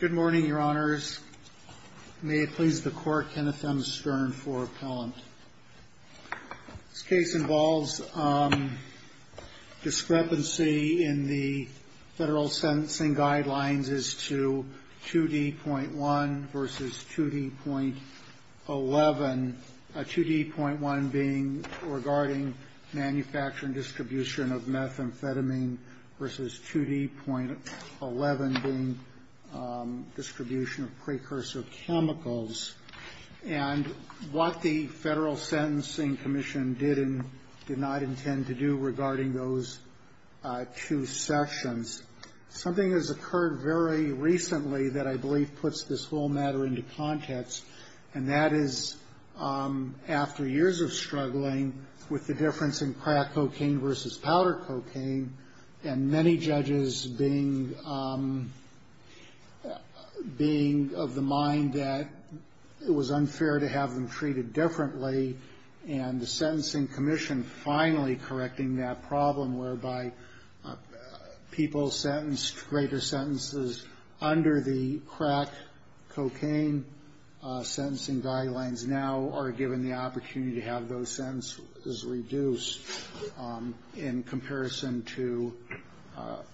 Good morning, Your Honors. May it please the Court, Kenneth M. Stern for appellant. This case involves discrepancy in the federal sentencing guidelines as to 2D.1 v. 2D.11, 2D.1 being regarding manufacturing distribution of methamphetamine v. 2D.11 being distribution of precursor chemicals. And what the Federal Sentencing Commission did and did not intend to do regarding those two sections. Is something has occurred very recently that I believe puts this whole matter into context. And that is after years of struggling with the difference in crack cocaine v. powder cocaine. And many judges being of the mind that it was unfair to have them treated differently. And the Sentencing Commission finally correcting that problem whereby people sentenced to greater sentences under the crack cocaine sentencing guidelines. Now are given the opportunity to have those sentences reduced in comparison to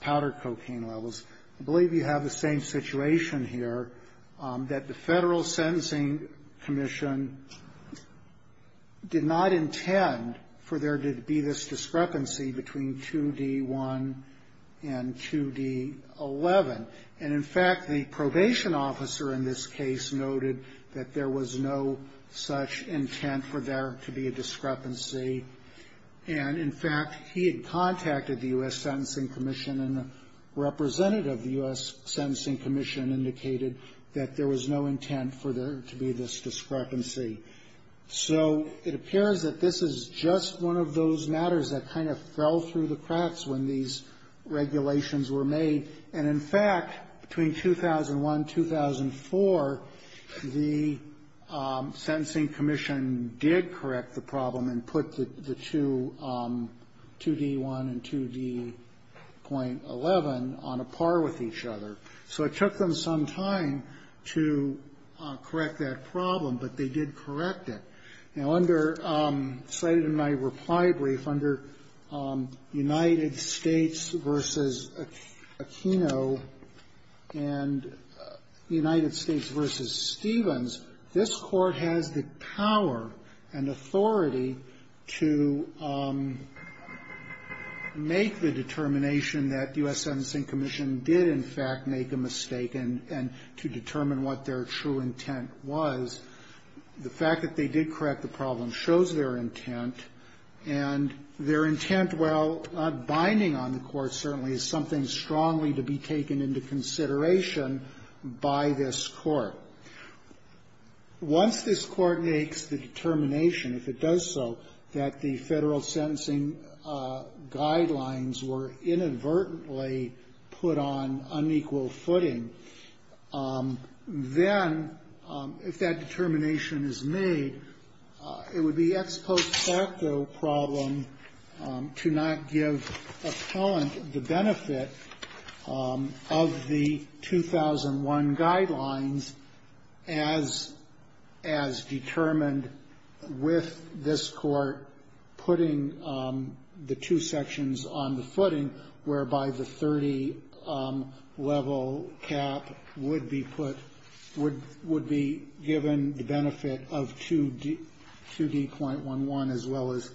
powder cocaine levels. I believe you have the same situation here. That the Federal Sentencing Commission did not intend for there to be this discrepancy between 2D.1 and 2D.11. And in fact, the probation officer in this case noted that there was no such intent for there to be a discrepancy. And in fact, he had contacted the U.S. Sentencing Commission. And the representative of the U.S. Sentencing Commission indicated that there was no intent for there to be this discrepancy. So it appears that this is just one of those matters that kind of fell through the cracks when these regulations were made. And in fact, between 2001 and 2004, the Sentencing Commission did correct the problem and put the two, 2D.1 and 2D.11, on a par with each other. So it took them some time to correct that problem, but they did correct it. Now under, cited in my reply brief, under United States v. Aquino and United States v. Stevens, this Court has the power and authority to make the determination that U.S. Sentencing Commission did in fact make a mistake. And to determine what their true intent was. The fact that they did correct the problem shows their intent. And their intent, while not binding on the Court, certainly is something strongly to be taken into consideration by this Court. Once this Court makes the determination, if it does so, that the Federal sentencing guidelines were inadvertently put on unequal footing, then if that determination is made, it would be ex post facto problem to not give appellant the benefit of the 2001 guidelines as determined with this Court putting the two sections on the footing whereby the 30-level cap would be put, would be given the benefit of 2D.11 as well as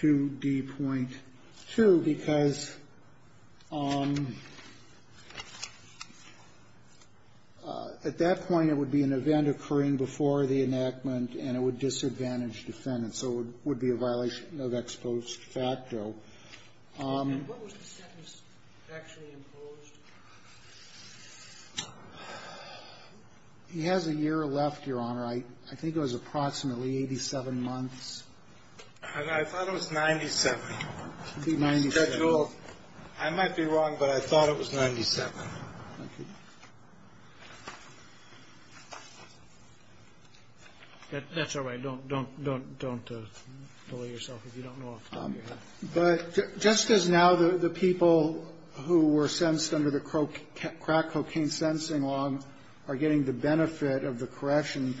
2D.2, because at that point it would be an event occurring before the enactment and it would disadvantage defendants. So it would be a violation of ex post facto. And what was the sentence actually imposed? He has a year left, Your Honor. I think it was approximately 87 months. I thought it was 97. I might be wrong, but I thought it was 97. That's all right. Don't delay yourself if you don't know off the top of your head. But just as now the people who were sentenced under the crack cocaine sentencing law are getting the benefit of the correction,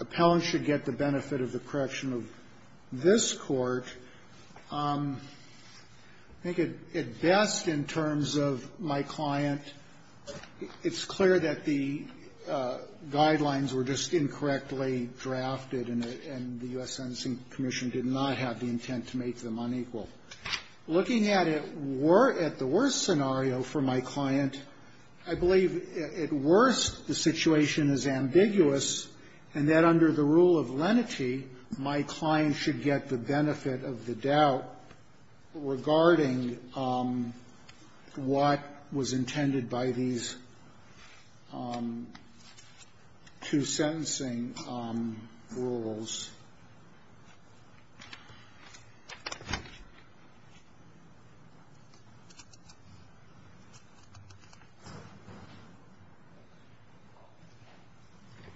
appellants should get the benefit of the correction of this Court. I think at best in terms of my client, it's clear that the guidelines were just to make them unequal. Looking at it at the worst scenario for my client, I believe at worst the situation is ambiguous and that under the rule of lenity, my client should get the benefit of the doubt regarding what was intended by these two sentencing rules.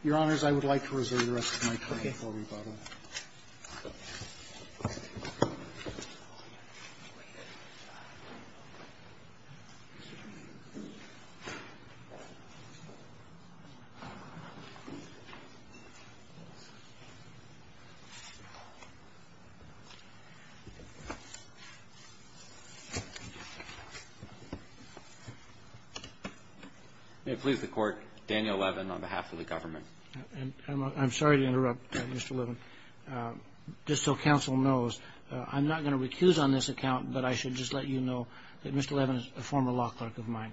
Your Honors, I would like to reserve the rest of my time for rebuttal. May it please the Court, Daniel Levin on behalf of the government. I'm sorry to interrupt, Mr. Levin. Just so counsel knows, I'm not going to recuse on this account, but I should just let you know that Mr. Levin is a former law clerk of mine.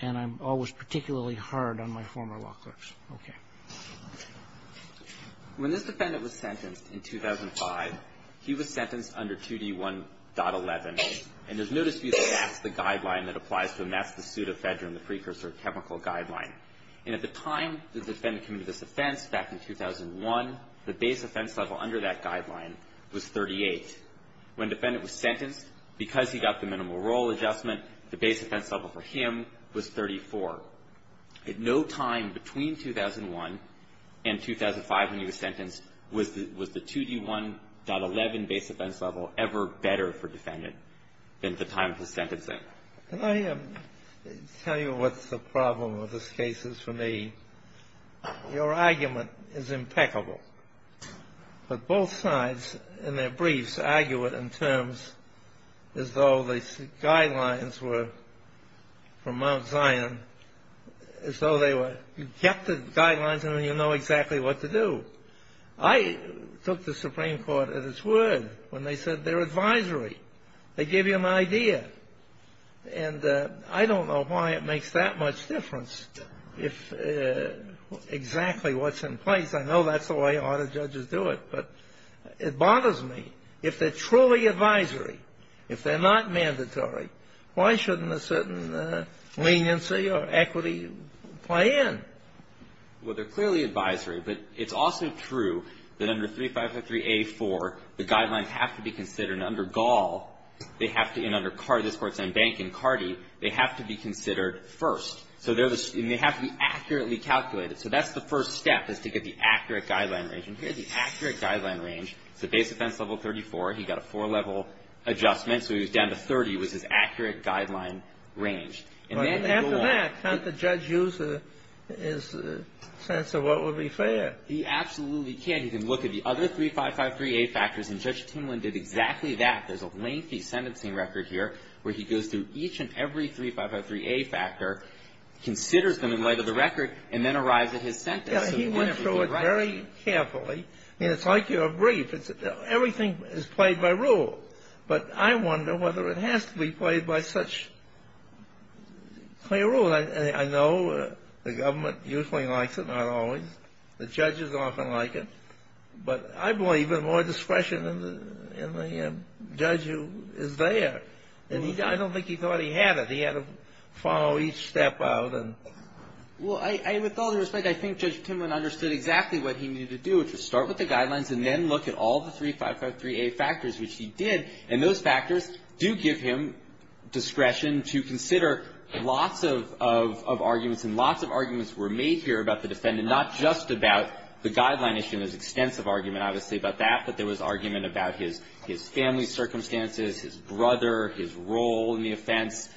And I'm always particularly hard on my former law clerks. Okay. When this defendant was sentenced in 2005, he was sentenced under 2D1.11. And there's no dispute that that's the guideline that applies to him. That's the pseudo-federal and the precursor chemical guideline. And at the time the defendant committed this offense back in 2001, the base offense level under that guideline was 38. When the defendant was sentenced, because he got the minimal role adjustment, the base offense level for him was 34. At no time between 2001 and 2005, when he was sentenced, was the 2D1.11 base offense level ever better for the defendant than at the time of his sentencing. Can I tell you what the problem of this case is for me? Your argument is impeccable. But both sides in their briefs argue it in terms as though the guidelines were from Mount Zion, as though they were, you get the guidelines and then you know exactly what to do. I took the Supreme Court at its word when they said they're advisory. They give you an idea. And I don't know why it makes that much difference if exactly what's in place. I know that's the way a lot of judges do it. But it bothers me. If they're truly advisory, if they're not mandatory, why shouldn't a certain leniency or equity play in? Well, they're clearly advisory. But it's also true that under 3553A4, the guidelines have to be considered. And under Gall, they have to, and under Cardi, this courts on Bank and Cardi, they have to be considered first. So they have to be accurately calculated. So that's the first step is to get the accurate guideline range. And here's the accurate guideline range. It's the base offense level 34. He got a four-level adjustment. So he was down to 30 was his accurate guideline range. And then after that, can't the judge use his sense of what would be fair? He absolutely can. He can look at the other 3553A factors, and Judge Timlin did exactly that. There's a lengthy sentencing record here where he goes through each and every 3553A factor, considers them in light of the record, and then arrives at his sentence. He went through it very carefully. It's like your brief. Everything is played by rule. But I wonder whether it has to be played by such clear rule. I know the government usually likes it, not always. The judges often like it. But I believe that more discretion in the judge is there. And I don't think he thought he had it. He had to follow each step out. Well, with all due respect, I think Judge Timlin understood exactly what he needed to do, which was start with the guidelines and then look at all the 3553A factors, which he did. And those factors do give him discretion to consider lots of arguments. And lots of arguments were made here about the defendant, not just about the guideline issue. There was extensive argument, obviously, about that. But there was argument about his family circumstances, his brother, his role in the offense,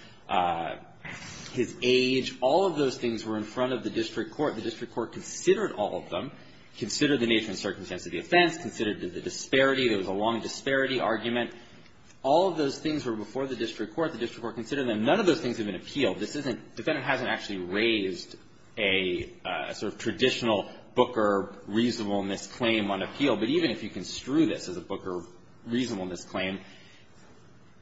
his age. All of those things were in front of the district court. The district court considered all of them, considered the nature and circumstance of the offense, considered the disparity. There was a long disparity argument. All of those things were before the district court. The district court considered them. None of those things have been appealed. This isn't – the defendant hasn't actually raised a sort of traditional Booker reasonableness claim on appeal. But even if you construe this as a Booker reasonableness claim,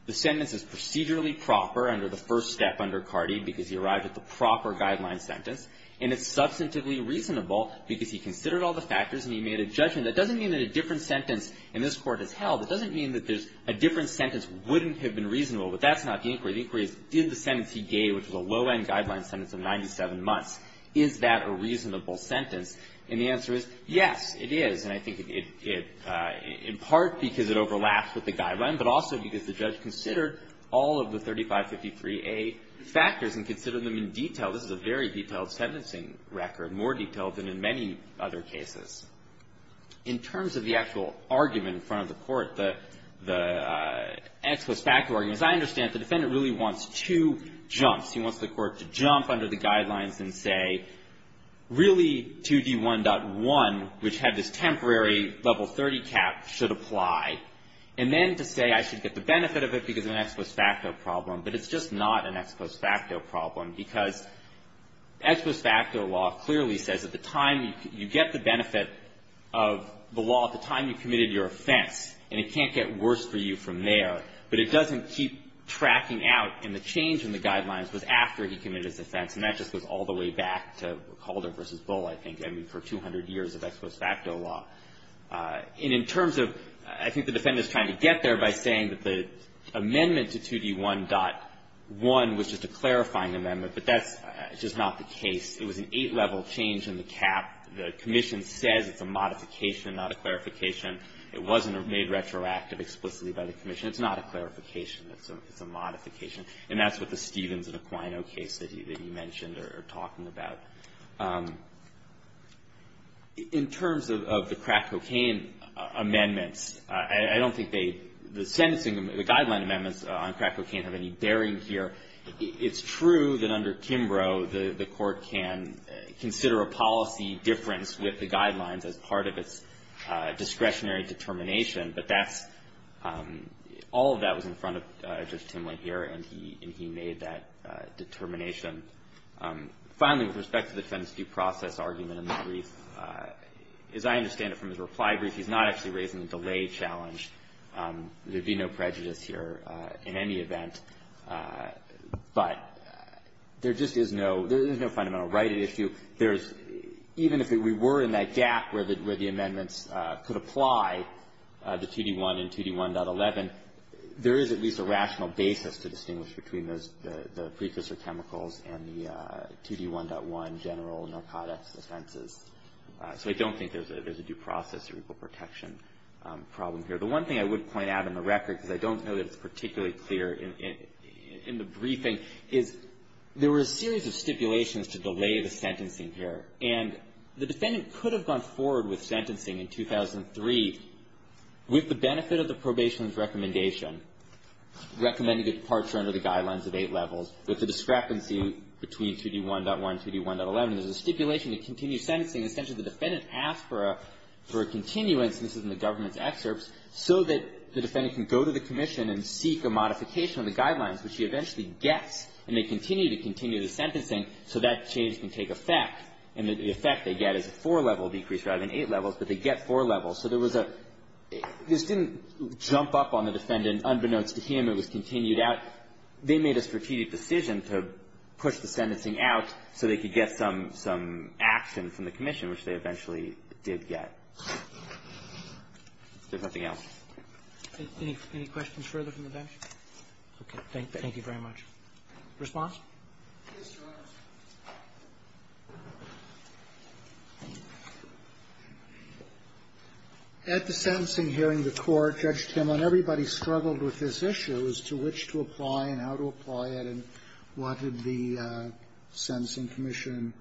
the sentence is procedurally proper under the first step under Cardi because he arrived at the proper guideline sentence. And it's substantively reasonable because he considered all the factors and he made a judgment. That doesn't mean that a different sentence in this Court is held. It doesn't mean that there's – a different sentence wouldn't have been reasonable. But that's not the inquiry. The inquiry is, did the sentence he gave, which was a low-end guideline sentence of 97 months, is that a reasonable sentence? And the answer is, yes, it is. And I think it – in part because it overlaps with the guideline, but also because the judge considered all of the 3553A factors and considered them in detail. This is a very detailed sentencing record, more detailed than in many other cases. In terms of the actual argument in front of the Court, the – the ex post facto argument, as I understand it, the defendant really wants two jumps. He wants the Court to jump under the guidelines and say, really, 2D1.1, which had this temporary level 30 cap, should apply, and then to say I should get the benefit of it because of an ex post facto problem. But it's just not an ex post facto problem because ex post facto law clearly says at the time you get the benefit of the law, at the time you committed your offense, and it can't get worse for you from there. But it doesn't keep tracking out. And the change in the guidelines was after he committed his offense. And that just goes all the way back to Calder v. Bull, I think, I mean, for 200 years of ex post facto law. And in terms of – I think the defendant is trying to get there by saying that the amendment to 2D1.1 was just a clarifying amendment. But that's just not the case. It was an eight-level change in the cap. The Commission says it's a modification, not a clarification. It wasn't made retroactive explicitly by the Commission. It's not a clarification. It's a modification. And that's what the Stevens and Aquino case that you mentioned are talking about. In terms of the crack cocaine amendments, I don't think they – the sentencing – the guideline amendments on crack cocaine have any bearing here. It's true that under Kimbrough, the Court can consider a policy difference with the guidelines as part of its discretionary determination. But that's – all of that was in front of Judge Timlin here, and he made that determination. Finally, with respect to the defendant's due process argument in the brief, as I understand it from his reply brief, he's not actually raising the delay challenge. There would be no prejudice here in any event. But there just is no – there is no fundamental right at issue. There's – even if we were in that gap where the amendments could apply the 2D1 and 2D1.11, there is at least a rational basis to distinguish between those – the precursor chemicals and the 2D1.1 general narcotics offenses. So I don't think there's a due process or equal protection problem here. The one thing I would point out on the record, because I don't know that it's particularly clear in the briefing, is there were a series of stipulations to delay the sentencing here. And the defendant could have gone forward with sentencing in 2003 with the benefit of the probation's recommendation, recommending departure under the guidelines of eight levels, with the discrepancy between 2D1.1 and 2D1.11. There's a stipulation to continue sentencing. Essentially, the defendant asked for a continuance, and this is in the government's excerpts, so that the defendant can go to the commission and seek a modification of the guidelines, which he eventually gets. And they continue to continue the sentencing so that change can take effect. And the effect they get is a four-level decrease rather than eight levels. But they get four levels. So there was a – this didn't jump up on the defendant unbeknownst to him. It was continued out. But they made a strategic decision to push the sentencing out so they could get some action from the commission, which they eventually did get. Is there something else? Roberts. Any questions further from the bench? Okay. Thank you very much. Response? At the sentencing hearing, the Court judged him on everybody struggled with his issues to which to apply and how to apply it and what did the sentencing commission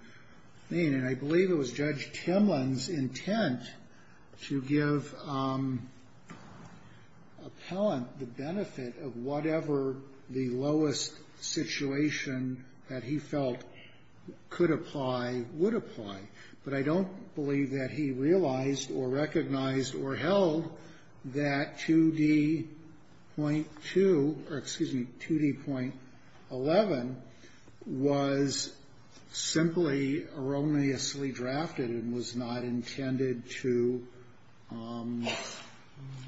mean. And I believe it was Judge Timlin's intent to give appellant the benefit of whatever the lowest situation that he felt could apply would apply. But I don't believe that he realized or recognized or held that 2D.2 or, excuse me, 2D.11 was simply erroneously drafted and was not intended to –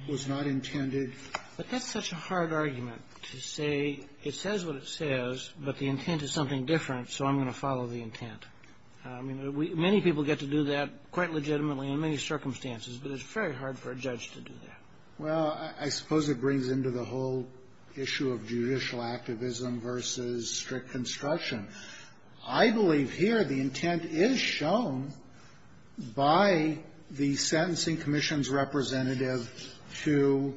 was not intended to – But that's such a hard argument to say it says what it says, but the intent is something different, so I'm going to follow the intent. I mean, many people get to do that quite legitimately in many circumstances, but it's very hard for a judge to do that. Well, I suppose it brings into the whole issue of judicial activism versus strict construction. I believe here the intent is shown by the sentencing commission's representative to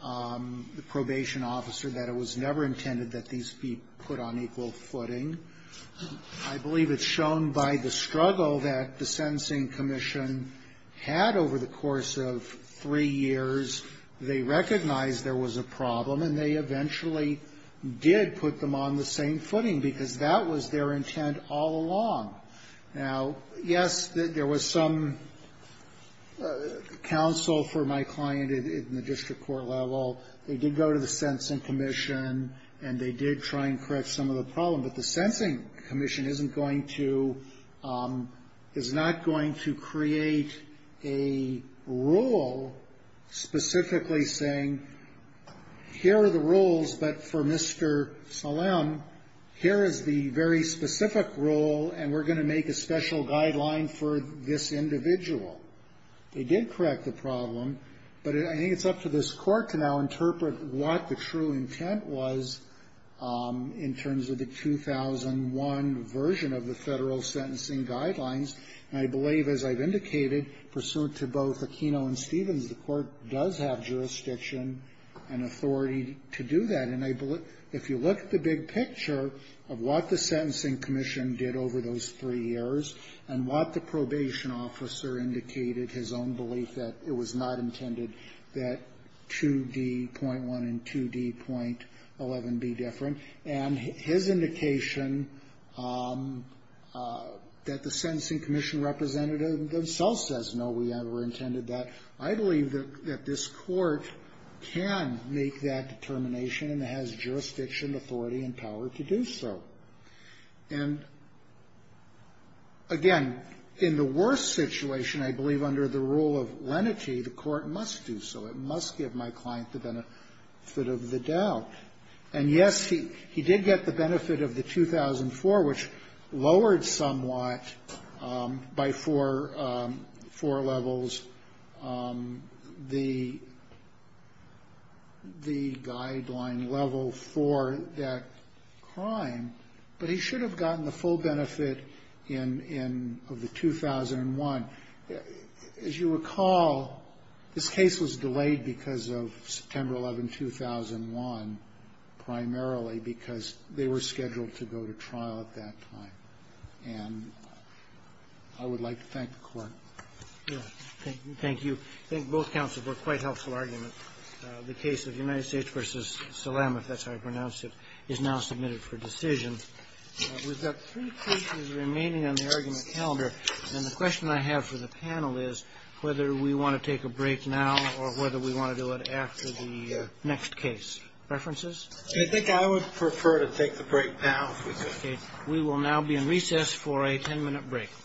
the probation officer that it was never intended that these be put on equal footing. I believe it's shown by the struggle that the sentencing commission had over the course of three years. They recognized there was a problem and they eventually did put them on the same footing because that was their intent all along. Now, yes, there was some counsel for my client in the district court level. They did go to the sentencing commission and they did try and correct some of the problem, but the sentencing commission isn't going to – is not going to create a rule specifically saying here are the rules, but for Mr. Salam, here is the very specific rule and we're going to make a special guideline for this individual. They did correct the problem, but I think it's up to this Court to now interpret what the true intent was in terms of the 2001 version of the Federal sentencing guidelines, and I believe, as I've indicated, pursuant to both Aquino and Stevens, the Court does have jurisdiction and authority to do that. And I believe if you look at the big picture of what the sentencing commission did over those three years and what the probation officer indicated, his own belief that it was not intended that 2D.1 and 2D.11 be different, and his indication that the sentencing commission representative themselves says, no, we never intended that, I believe that this Court can make that determination and has jurisdiction, authority, and power to do so. And, again, in the worst situation, I believe under the rule of lenity, the Court must do so. It must give my client the benefit of the doubt. And, yes, he did get the benefit of the 2004, which lowered somewhat by four levels the guideline level for that crime, but he should have gotten the full benefit of the 2001. As you recall, this case was delayed because of September 11, 2001, primarily because they were scheduled to go to trial at that time. And I would like to thank the Court. Thank you. I think both counsels were quite helpful arguments. The case of United States v. Salam, if that's how you pronounce it, is now submitted for decision. We've got three cases remaining on the argument calendar, and the question I have for the panel is whether we want to take a break now or whether we want to do it after the next case. Preferences? I think I would prefer to take the break now. Okay. We will now be in recess for a 10-minute break.